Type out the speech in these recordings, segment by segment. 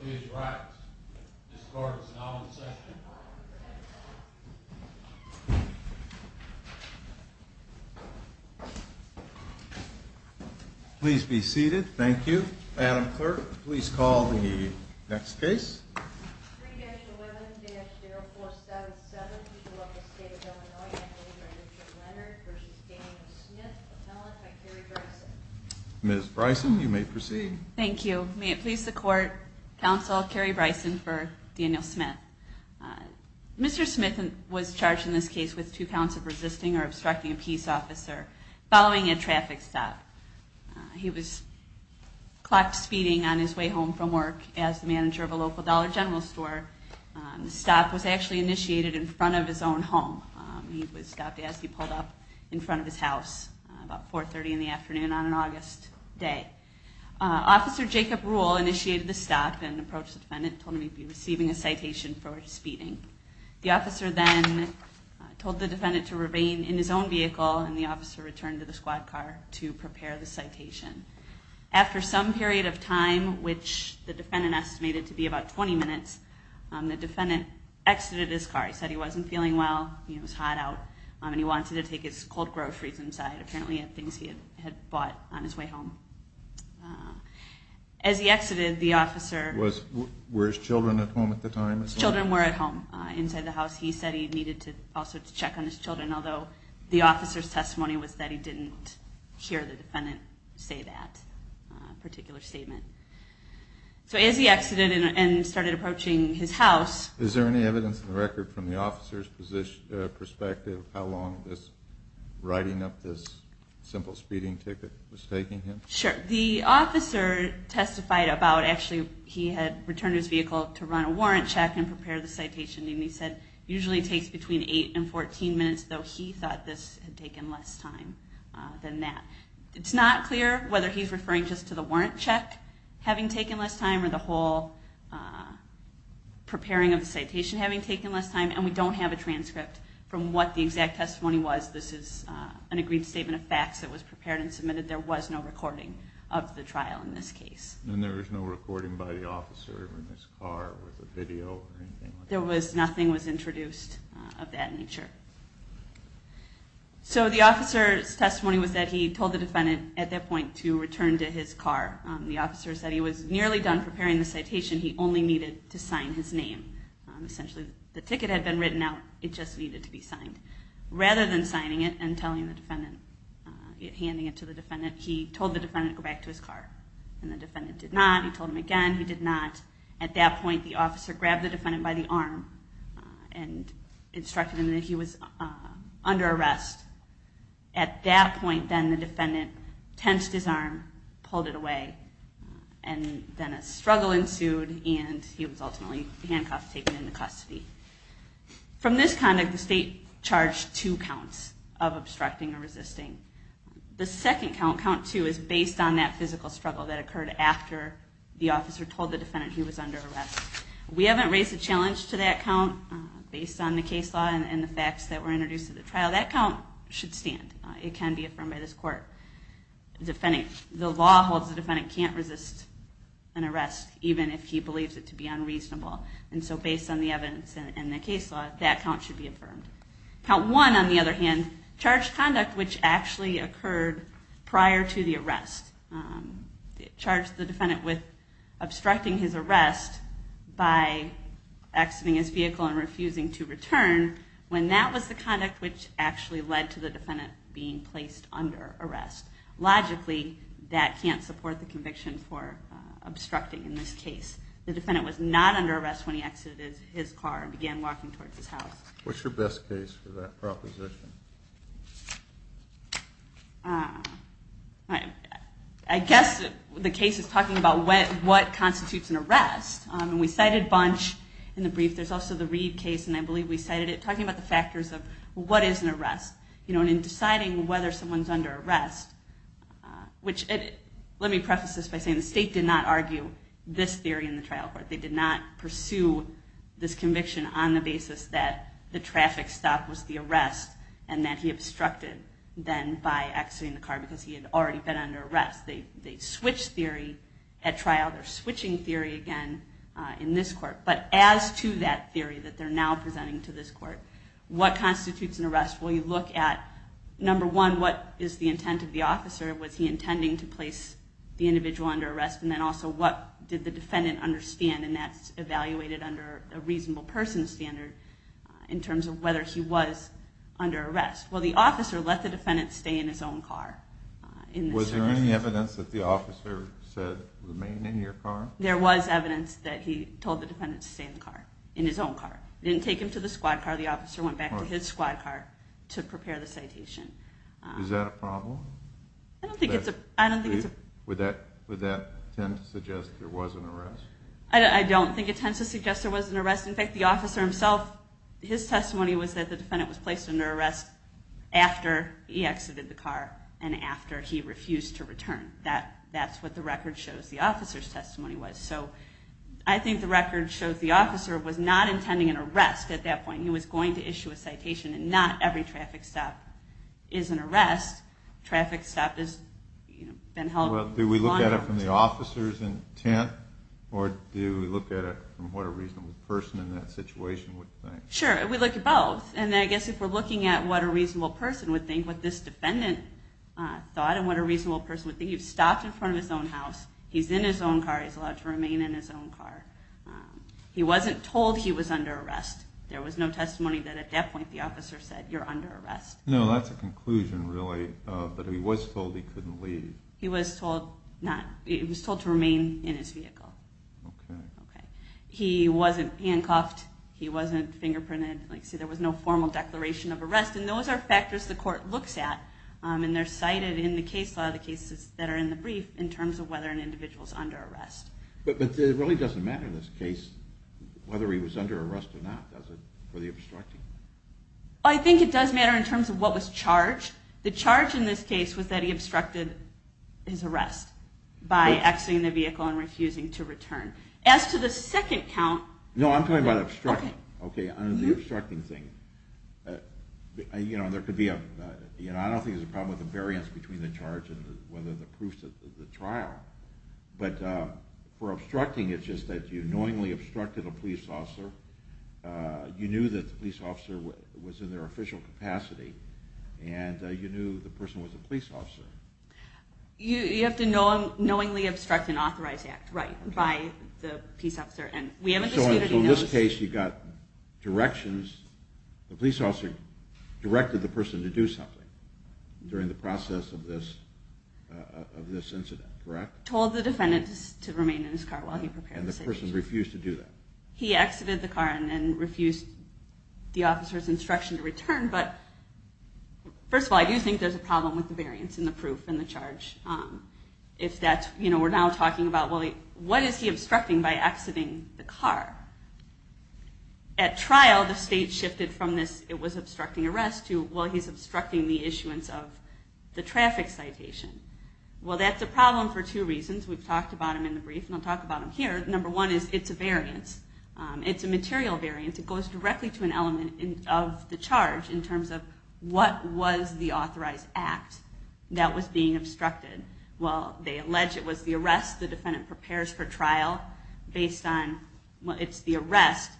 Please rise. This court is now in session. Please be seated. Thank you. Madam Clerk, please call the next case. 3-11-0477 People of the State of Illinois v. Andrew Leonard v. Daniel Smith Appellant by Carrie Bryson Ms. Bryson, you may proceed. Thank you. May it please the Court, Counsel Carrie Bryson for Daniel Smith. Mr. Smith was charged in this case with two counts of resisting or obstructing a peace officer following a traffic stop. He was clocked speeding on his way home from work as the manager of a local Dollar General store. The stop was actually initiated in front of his own home. He was stopped as he pulled up in front of his house about 4.30 in the afternoon on an August day. Officer Jacob Rule initiated the stop and approached the defendant and told him he'd be receiving a citation for speeding. The officer then told the defendant to remain in his own vehicle and the officer returned to the squad car to prepare the citation. After some period of time, which the defendant estimated to be about 20 minutes, the defendant exited his car. He said he wasn't feeling well, he was hot out, and he wanted to take his cold groceries inside. Apparently he had things he had bought on his way home. As he exited, the officer... Were his children at home at the time? His children were at home inside the house. He said he needed to also check on his children, although the officer's testimony was that he didn't hear the defendant say that particular statement. So as he exited and started approaching his house... Is there any evidence in the record from the officer's perspective how long riding up this simple speeding ticket was taking him? Sure. The officer testified about... Actually, he had returned his vehicle to run a warrant check and prepare the citation. He said it usually takes between 8 and 14 minutes, though he thought this had taken less time than that. It's not clear whether he's referring just to the warrant check having taken less time or the whole preparing of the citation having taken less time. And we don't have a transcript from what the exact testimony was. This is an agreed statement of facts that was prepared and submitted. There was no recording of the trial in this case. And there was no recording by the officer in his car with a video or anything like that? Nothing was introduced of that nature. So the officer's testimony was that he told the defendant at that point to return to his car. The officer said he was nearly done preparing the citation. He only needed to sign his name. Essentially, the ticket had been written out. It just needed to be signed. Rather than signing it and handing it to the defendant, he told the defendant to go back to his car. And the defendant did not. He told him again. He did not. At that point, the officer grabbed the defendant by the arm and instructed him that he was under arrest. At that point, then, the defendant tensed his arm, pulled it away. And then a struggle ensued, and he was ultimately handcuffed, taken into custody. From this conduct, the state charged two counts of obstructing or resisting. The second count, count two, is based on that physical struggle that occurred after the officer told the defendant he was under arrest. We haven't raised a challenge to that count based on the case law and the facts that were introduced at the trial. That count should stand. It can be affirmed by this court. The law holds the defendant can't resist an arrest, even if he believes it to be unreasonable. And so based on the evidence and the case law, that count should be affirmed. Count one, on the other hand, charged conduct which actually occurred prior to the arrest. It charged the defendant with obstructing his arrest by exiting his vehicle and refusing to return, when that was the conduct which actually led to the defendant being placed under arrest. Logically, that can't support the conviction for obstructing in this case. The defendant was not under arrest when he exited his car and began walking towards his house. What's your best case for that proposition? I guess the case is talking about what constitutes an arrest. We cited Bunch in the brief. There's also the Reed case, and I believe we cited it, talking about the factors of what is an arrest. In deciding whether someone's under arrest, which let me preface this by saying the state did not argue this theory in the trial court. They did not pursue this conviction on the basis that the traffic stop was the arrest, and that he obstructed then by exiting the car because he had already been under arrest. They switched theory at trial. They're switching theory again in this court. But as to that theory that they're now presenting to this court, what constitutes an arrest? Well, you look at, number one, what is the intent of the officer? Was he intending to place the individual under arrest? And then also, what did the defendant understand? And that's evaluated under a reasonable person standard in terms of whether he was under arrest. Well, the officer let the defendant stay in his own car. Was there any evidence that the officer said, remain in your car? There was evidence that he told the defendant to stay in the car, in his own car. He didn't take him to the squad car. The officer went back to his squad car to prepare the citation. Is that a problem? I don't think it's a problem. Would that tend to suggest there was an arrest? I don't think it tends to suggest there was an arrest. In fact, the officer himself, his testimony was that the defendant was placed under arrest after he exited the car and after he refused to return. That's what the record shows the officer's testimony was. So I think the record shows the officer was not intending an arrest at that point. He was going to issue a citation, and not every traffic stop is an arrest. Traffic stop has been held for a long time. Do we look at it from the officer's intent, or do we look at it from what a reasonable person in that situation would think? Sure, we look at both. And I guess if we're looking at what a reasonable person would think, what this defendant thought and what a reasonable person would think, he stopped in front of his own house, he's in his own car, he's allowed to remain in his own car. He wasn't told he was under arrest. There was no testimony that at that point the officer said, you're under arrest. No, that's a conclusion, really, that he was told he couldn't leave. He was told not. He was told to remain in his vehicle. Okay. Okay. He wasn't handcuffed. He wasn't fingerprinted. See, there was no formal declaration of arrest. And those are factors the court looks at, and they're cited in the case law, the cases that are in the brief, in terms of whether an individual is under arrest. But it really doesn't matter in this case whether he was under arrest or not, does it, for the obstructing? I think it does matter in terms of what was charged. The charge in this case was that he obstructed his arrest by exiting the vehicle and refusing to return. As to the second count. No, I'm talking about obstructing. Okay. Okay, on the obstructing thing. You know, there could be a, you know, I don't think there's a problem with the variance between the charge and whether the proofs of the trial. But for obstructing, it's just that you knowingly obstructed a police officer. You knew that the police officer was in their official capacity, and you knew the person was a police officer. You have to knowingly obstruct an authorized act, right, by the peace officer. And we haven't disputed those. So in this case, you've got directions. The police officer directed the person to do something during the process of this incident, correct? Told the defendant to remain in his car while he prepared the situation. And the person refused to do that. He exited the car and then refused the officer's instruction to return. But first of all, I do think there's a problem with the variance in the proof and the charge. If that's, you know, we're now talking about, well, what is he obstructing by exiting the car? At trial, the state shifted from this, it was obstructing arrest, to, well, he's obstructing the issuance of the traffic citation. Well, that's a problem for two reasons. We've talked about them in the brief, and I'll talk about them here. Number one is it's a variance. It's a material variance. It goes directly to an element of the charge in terms of what was the authorized act that was being obstructed. Well, they allege it was the arrest. The defendant prepares for trial based on, well, it's the arrest.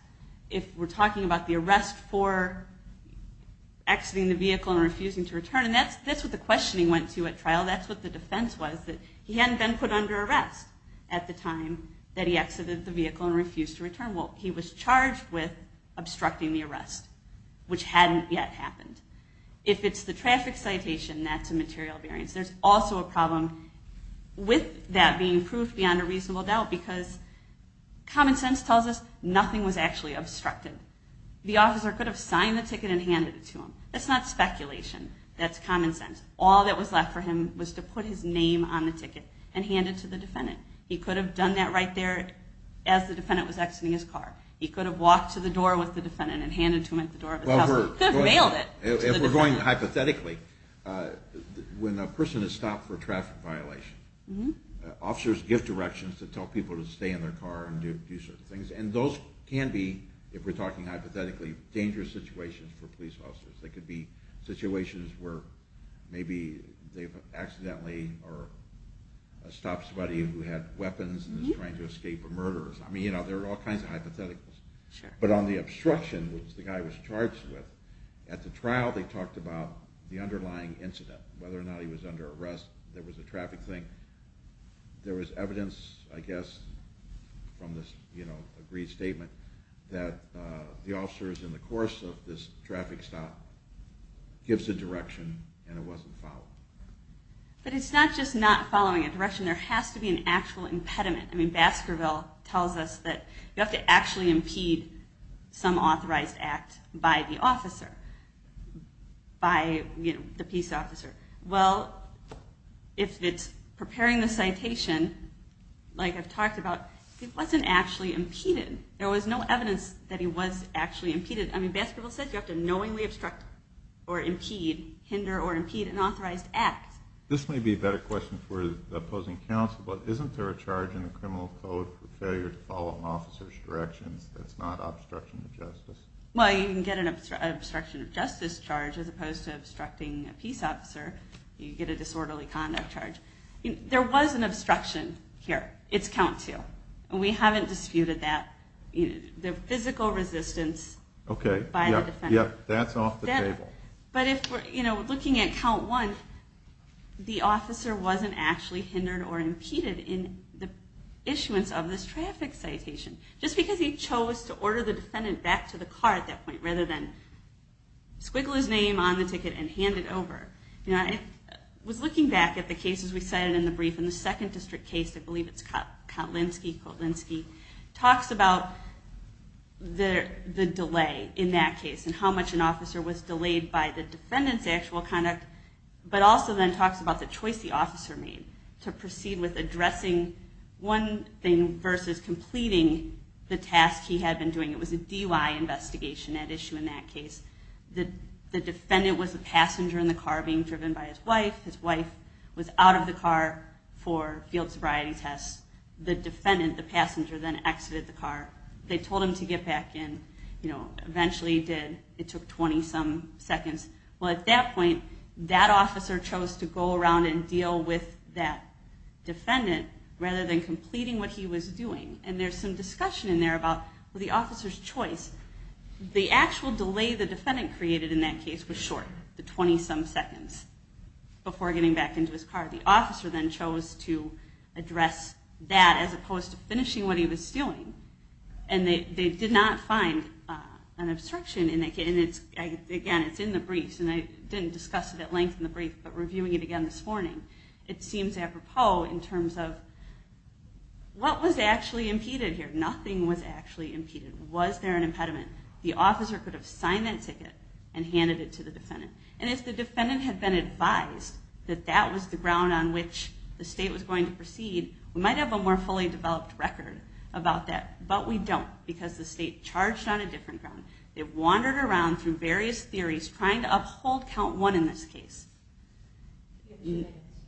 If we're talking about the arrest for exiting the vehicle and refusing to return, and that's what the questioning went to at trial. That's what the defense was, that he hadn't been put under arrest at the time that he exited the vehicle and refused to return. Well, he was charged with obstructing the arrest, which hadn't yet happened. If it's the traffic citation, that's a material variance. There's also a problem with that being proof beyond a reasonable doubt because common sense tells us nothing was actually obstructed. The officer could have signed the ticket and handed it to him. That's not speculation. That's common sense. All that was left for him was to put his name on the ticket and hand it to the defendant. He could have done that right there as the defendant was exiting his car. He could have walked to the door with the defendant and handed it to him at the door of his house. He could have mailed it to the defendant. If we're going hypothetically, when a person is stopped for a traffic violation, officers give directions to tell people to stay in their car and do certain things. And those can be, if we're talking hypothetically, dangerous situations for police officers. They could be situations where maybe they've accidentally stopped somebody who had weapons and is trying to escape a murderer. There are all kinds of hypotheticals. But on the obstruction, which the guy was charged with, at the trial they talked about the underlying incident, whether or not he was under arrest, there was a traffic thing. There was evidence, I guess, from this agreed statement, that the officers, in the course of this traffic stop, gives a direction and it wasn't followed. But it's not just not following a direction. There has to be an actual impediment. I mean, Baskerville tells us that you have to actually impede some authorized act by the officer, by the peace officer. Well, if it's preparing the citation, like I've talked about, it wasn't actually impeded. There was no evidence that he was actually impeded. I mean, Baskerville said you have to knowingly obstruct or impede, hinder or impede an authorized act. This may be a better question for the opposing counsel, but isn't there a charge in the criminal code for failure to follow an officer's directions that's not obstruction of justice? Well, you can get an obstruction of justice charge as opposed to obstructing a peace officer. You get a disorderly conduct charge. There was an obstruction here. It's count two. And we haven't disputed that. The physical resistance by the defendant. Okay. Yeah, that's off the table. But looking at count one, the officer wasn't actually hindered or impeded in the issuance of this traffic citation. Just because he chose to order the defendant back to the car at that point rather than squiggle his name on the ticket and hand it over. I was looking back at the cases we cited in the brief. And the second district case, I believe it's Kotlinski, talks about the delay in that case and how much an officer was delayed by the defendant's actual conduct, but also then talks about the choice the officer made to proceed with addressing one thing versus completing the task he had been doing. It was a DUI investigation at issue in that case. The defendant was a passenger in the car being driven by his wife. His wife was out of the car for field sobriety tests. The defendant, the passenger, then exited the car. They told him to get back in. Eventually he did. It took 20-some seconds. Well, at that point, that officer chose to go around and deal with that defendant rather than completing what he was doing. And there's some discussion in there about the officer's choice. The actual delay the defendant created in that case was short, the 20-some seconds before getting back into his car. The officer then chose to address that as opposed to finishing what he was doing. And they did not find an obstruction in that case. And, again, it's in the briefs, and I didn't discuss it at length in the brief, but reviewing it again this morning, it seems apropos in terms of what was actually impeded here. Nothing was actually impeded. Was there an impediment? The officer could have signed that ticket and handed it to the defendant. And if the defendant had been advised that that was the ground on which the state was going to proceed, we might have a more fully developed record about that. But we don't, because the state charged on a different ground. They wandered around through various theories trying to uphold count one in this case.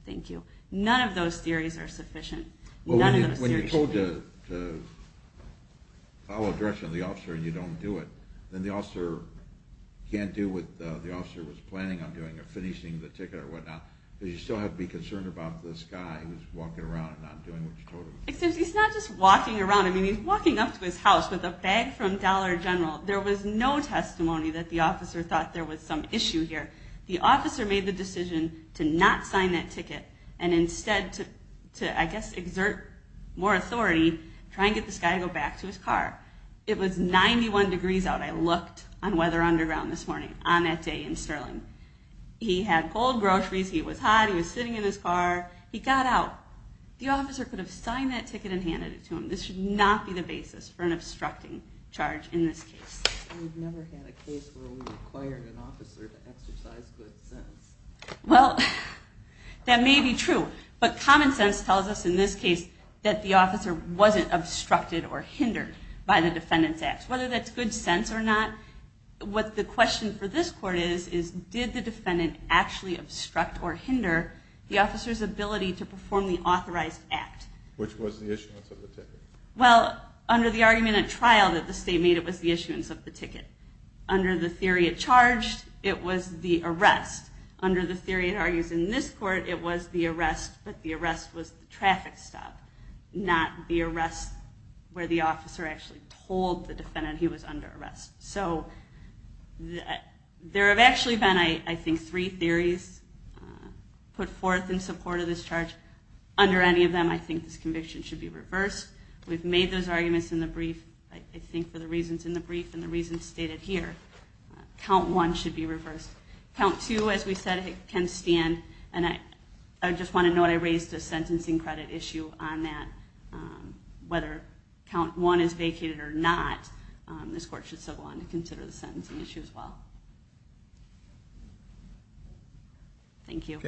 Thank you. None of those theories are sufficient. When you're told to follow direction of the officer and you don't do it, then the officer can't do what the officer was planning on doing of finishing the ticket or whatnot because you still have to be concerned about this guy who's walking around and not doing what you told him. He's not just walking around. He's walking up to his house with a bag from Dollar General. There was no testimony that the officer thought there was some issue here. The officer made the decision to not sign that ticket and instead to, I guess, exert more authority, try and get this guy to go back to his car. It was 91 degrees out. I looked on Weather Underground this morning, on that day in Sterling. He had cold groceries, he was hot, he was sitting in his car. He got out. The officer could have signed that ticket and handed it to him. This should not be the basis for an obstructing charge in this case. We've never had a case where we required an officer to exercise good sense. Well, that may be true. But common sense tells us in this case that the officer wasn't obstructed or hindered by the defendant's acts. Whether that's good sense or not, what the question for this court is, is did the defendant actually obstruct or hinder the officer's ability to perform the authorized act? Which was the issuance of the ticket. Well, under the argument at trial that the state made, it was the issuance of the ticket. Under the theory it charged, it was the arrest. Under the theory it argues in this court, it was the arrest, but the arrest was the traffic stop, not the arrest where the officer actually told the defendant he was under arrest. So there have actually been, I think, three theories put forth in support of this charge. Under any of them, I think this conviction should be reversed. We've made those arguments in the brief, I think for the reasons in the brief and the reasons stated here. Count one should be reversed. Count two, as we said, can stand. And I just want to note, I raised a sentencing credit issue on that. Whether count one is vacated or not, this court should still go on to consider the sentencing issue as well. Thank you.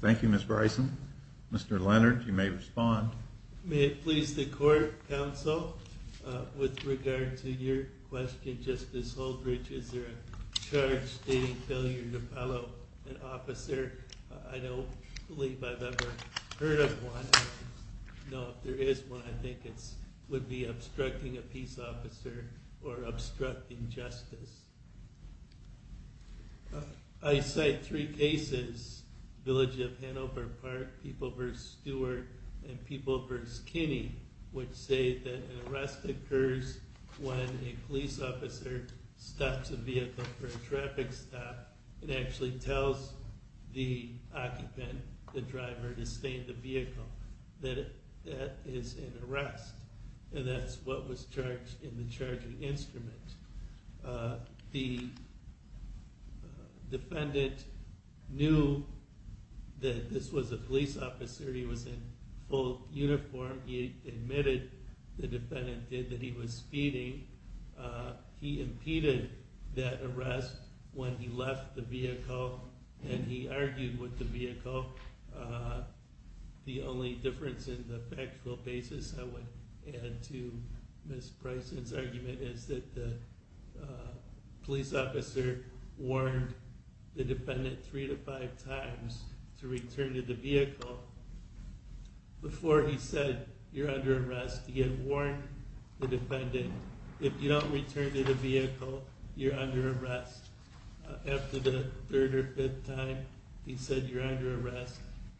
Thank you, Ms. Bryson. Mr. Leonard, you may respond. May it please the court, counsel, with regard to your question, Justice Holdridge, is there a charge stating failure to follow an officer? I don't believe I've ever heard of one. I don't know if there is one. I think it would be obstructing a peace officer or obstructing justice. I cite three cases, Village of Hanover Park, People v. Stewart, and People v. Kinney, which say that an arrest occurs when a police officer stops a vehicle for a traffic stop and actually tells the occupant, the driver, to stay in the vehicle. That is an arrest. And that's what was charged in the charging instrument. The defendant knew that this was a police officer. He was in full uniform. He admitted, the defendant did, that he was speeding. He impeded that arrest when he left the vehicle and he argued with the vehicle. The only difference in the factual basis, I would add to Ms. Bryson's argument, is that the police officer warned the defendant three to five times to return to the vehicle before he said, you're under arrest. He had warned the defendant, if you don't return to the vehicle, you're under arrest. After the third or fifth time, he said, you're under arrest.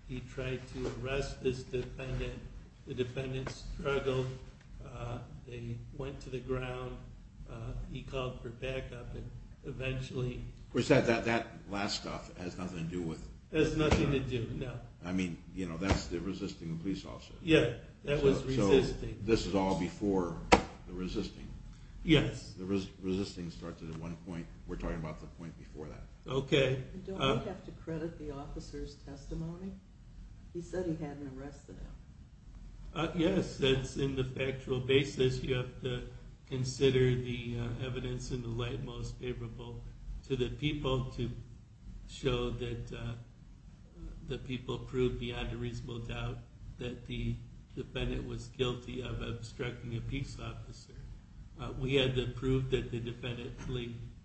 He tried to arrest this defendant. The defendant struggled. They went to the ground. He called for backup and eventually... Of course, that last stuff has nothing to do with... That's the resisting police officer. Yeah, that was resisting. This is all before the resisting. Yes. The resisting started at one point. We're talking about the point before that. Okay. Don't we have to credit the officer's testimony? He said he hadn't arrested him. Yes, that's in the factual basis. You have to consider the evidence in the light most favorable to the people to show that the people proved beyond a reasonable doubt that the defendant was guilty of obstructing a peace officer. We had to prove that the defendant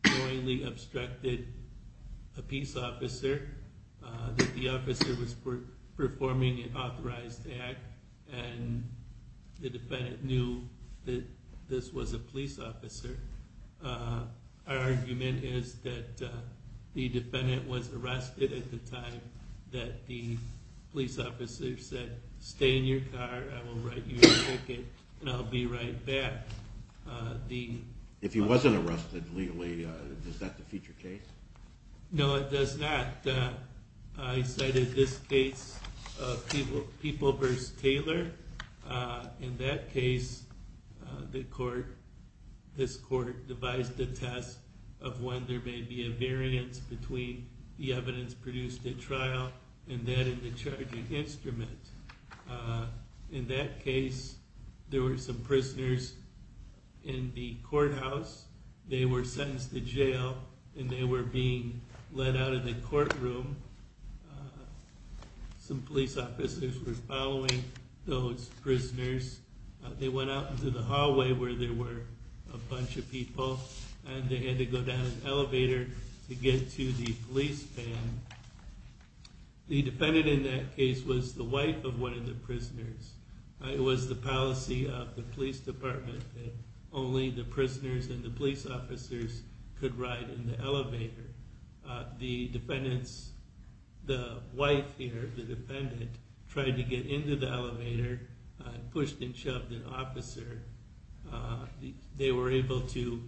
knowingly obstructed a peace officer, that the officer was performing an authorized act, and the defendant knew that this was a police officer. Our argument is that the defendant was arrested at the time that the police officer said, stay in your car, I will write you a ticket, and I'll be right back. If he wasn't arrested legally, does that defeat your case? No, it does not. I cited this case of People v. Taylor. In that case, this court devised a test of when there may be a variance between the evidence produced at trial and that in the charging instrument. In that case, there were some prisoners in the courthouse. They were sentenced to jail, and they were being let out of the courtroom. Some police officers were following those prisoners. They went out into the hallway where there were a bunch of people, and they had to go down an elevator to get to the police van. The defendant in that case was the wife of one of the prisoners. It was the policy of the police department that only the prisoners and the police officers could ride in the elevator. The wife here, the defendant, tried to get into the elevator and pushed and shoved an officer. They were able to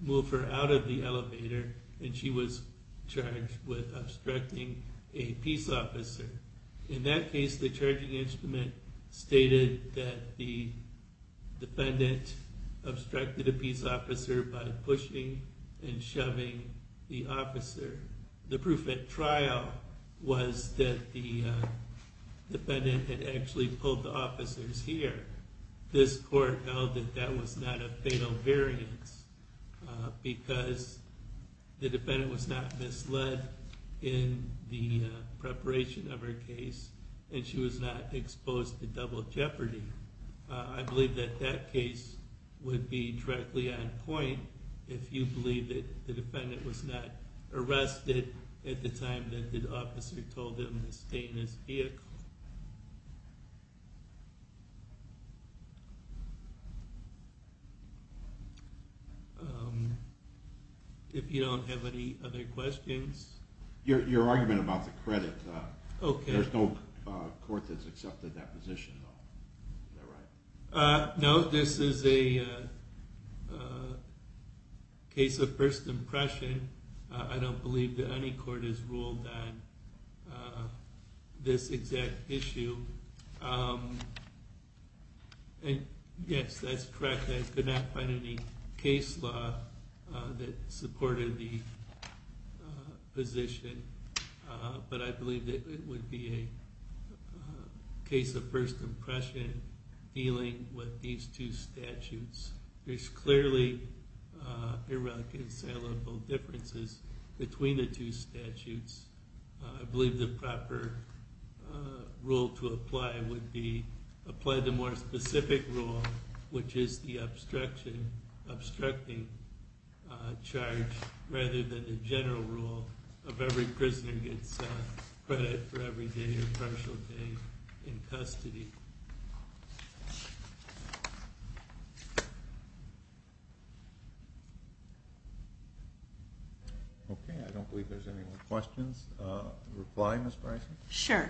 move her out of the elevator, and she was charged with obstructing a peace officer. In that case, the charging instrument stated that the defendant obstructed a peace officer by pushing and shoving the officer. The proof at trial was that the defendant had actually pulled the officers here. This court held that that was not a fatal variance because the defendant was not misled in the preparation of her case, and she was not exposed to double jeopardy. I believe that that case would be directly on point if you believe that the defendant was not arrested at the time that the officer told him to stay in his vehicle. If you don't have any other questions... Your argument about the credit, there's no court that's accepted that position. No, this is a case of first impression. I don't believe that any court has ruled on this exact issue. Yes, that's correct. I could not find any case law that supported the position, but I believe that it would be a case of first impression dealing with these two statutes. There's clearly irreconcilable differences between the two statutes. I believe the proper rule to apply would be apply the more specific rule, which is the obstruction, obstructing charge, rather than the general rule of every prisoner gets credit for every day or partial day in custody. Okay, I don't believe there's any more questions. A reply, Ms. Bryson? Sure.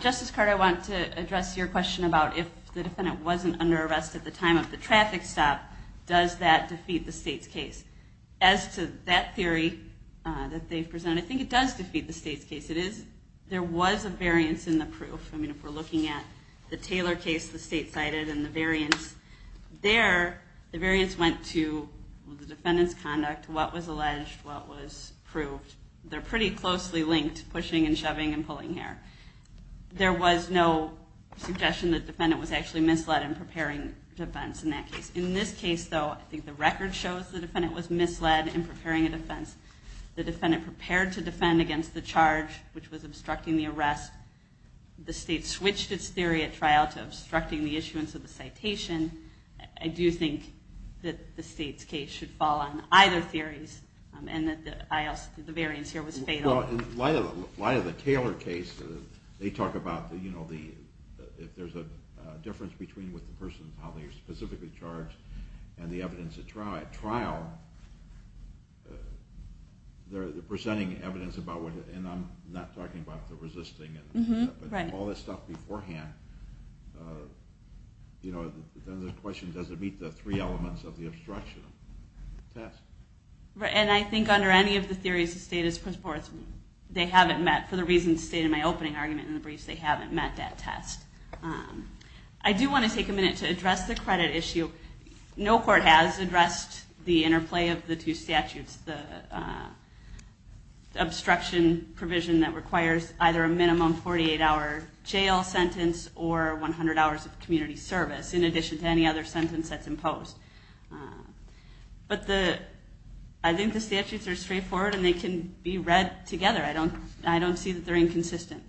Justice Carter, I want to address your question about if the defendant wasn't under arrest at the time of the traffic stop, does that defeat the state's case? As to that theory that they've presented, I think it does defeat the state's case. There was a variance in the proof. I mean, if we're looking at the Taylor case the state cited and the variance, there the variance went to the defendant's conduct, what was alleged, what was proved. They're pretty closely linked, pushing and shoving and pulling hair. There was no suggestion the defendant was actually misled in preparing defense in that case. In this case, though, I think the record shows the defendant was misled in preparing a defense. The defendant prepared to defend against the charge, which was obstructing the arrest. The state switched its theory at trial to obstructing the issuance of the citation. I do think that the state's case should fall on either theories and that the variance here was fatal. In light of the Taylor case, they talk about if there's a difference between the person and how they were specifically charged and the evidence at trial, they're presenting evidence about what, and I'm not talking about the resisting, but all this stuff beforehand. Then the question, does it meet the three elements of the obstruction test? And I think under any of the theories, the state has put forth, they haven't met, for the reasons stated in my opening argument in the briefs, they haven't met that test. I do want to take a minute to address the credit issue. No court has addressed the interplay of the two statutes, the obstruction provision that requires either a minimum 48-hour jail sentence or 100 hours of community service, in addition to any other sentence that's imposed. But I think the statutes are straightforward and they can be read together. I don't see that they're inconsistent.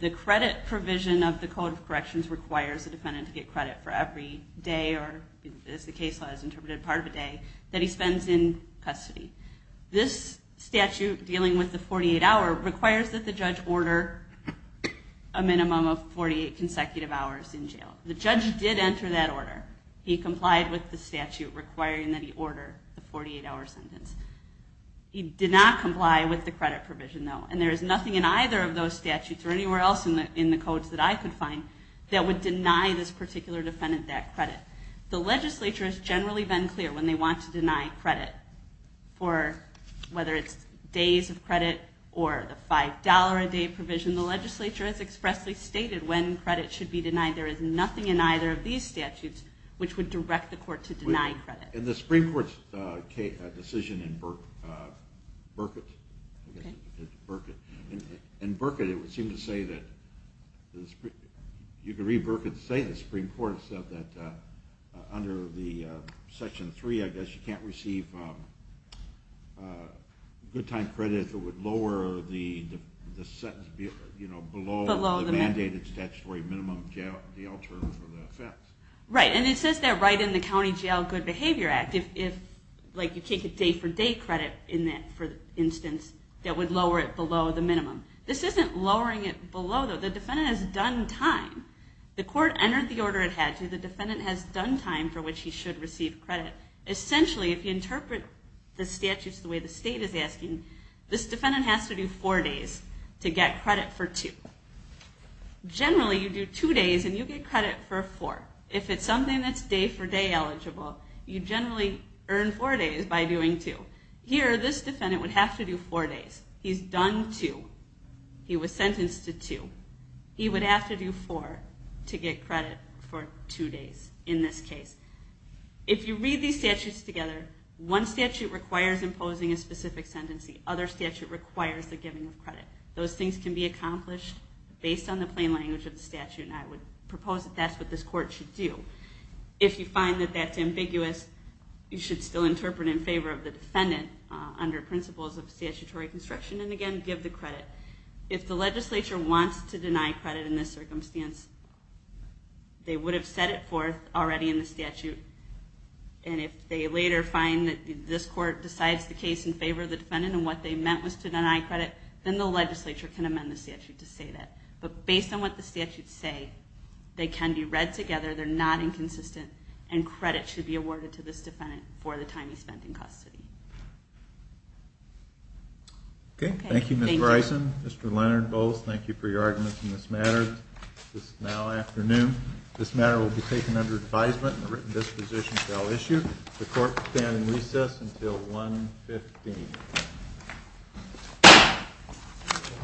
The credit provision of the Code of Corrections requires a defendant to get credit for every day, or as the case law has interpreted, part of a day that he spends in custody. This statute dealing with the 48-hour requires that the judge order a minimum of 48 consecutive hours in jail. The judge did enter that order. He complied with the statute requiring that he order the 48-hour sentence. He did not comply with the credit provision, though, and there is nothing in either of those statutes or anywhere else in the codes that I could find that would deny this particular defendant that credit. The legislature has generally been clear when they want to deny credit for whether it's days of credit or the $5 a day provision. The legislature has expressly stated when credit should be denied. There is nothing in either of these statutes which would direct the court to deny credit. In the Supreme Court's decision in Burkitt, in Burkitt it would seem to say that, you can read Burkitt's statement, the Supreme Court said that under Section 3, I guess, you can't receive good time credit if it would lower the sentence below the mandated statutory minimum jail term for the offense. Right, and it says that right in the County Jail Good Behavior Act, if you take a day-for-day credit in that instance, that would lower it below the minimum. This isn't lowering it below, though. The defendant has done time. The court entered the order it had to. The defendant has done time for which he should receive credit. Essentially, if you interpret the statutes the way the state is asking, this defendant has to do four days to get credit for two. Generally, you do two days and you get credit for four. If it's something that's day-for-day eligible, you generally earn four days by doing two. Here, this defendant would have to do four days. He's done two. He was sentenced to two. He would have to do four to get credit for two days in this case. If you read these statutes together, one statute requires imposing a specific sentence. The other statute requires the giving of credit. Those things can be accomplished based on the plain language of the statute, and I would propose that that's what this court should do. If you find that that's ambiguous, you should still interpret in favor of the defendant under principles of statutory construction and, again, give the credit. If the legislature wants to deny credit in this circumstance, they would have set it forth already in the statute, and if they later find that this court decides the case in favor of the defendant and what they meant was to deny credit, then the legislature can amend the statute to say that. But based on what the statutes say, they can be read together, they're not inconsistent, and credit should be awarded to this defendant for the time he spent in custody. Okay. Thank you, Ms. Bryson. Mr. Leonard, Bowles, thank you for your arguments in this matter. It's now afternoon. This matter will be taken under advisement and a written disposition shall issue. The court shall stand in recess until 1.15.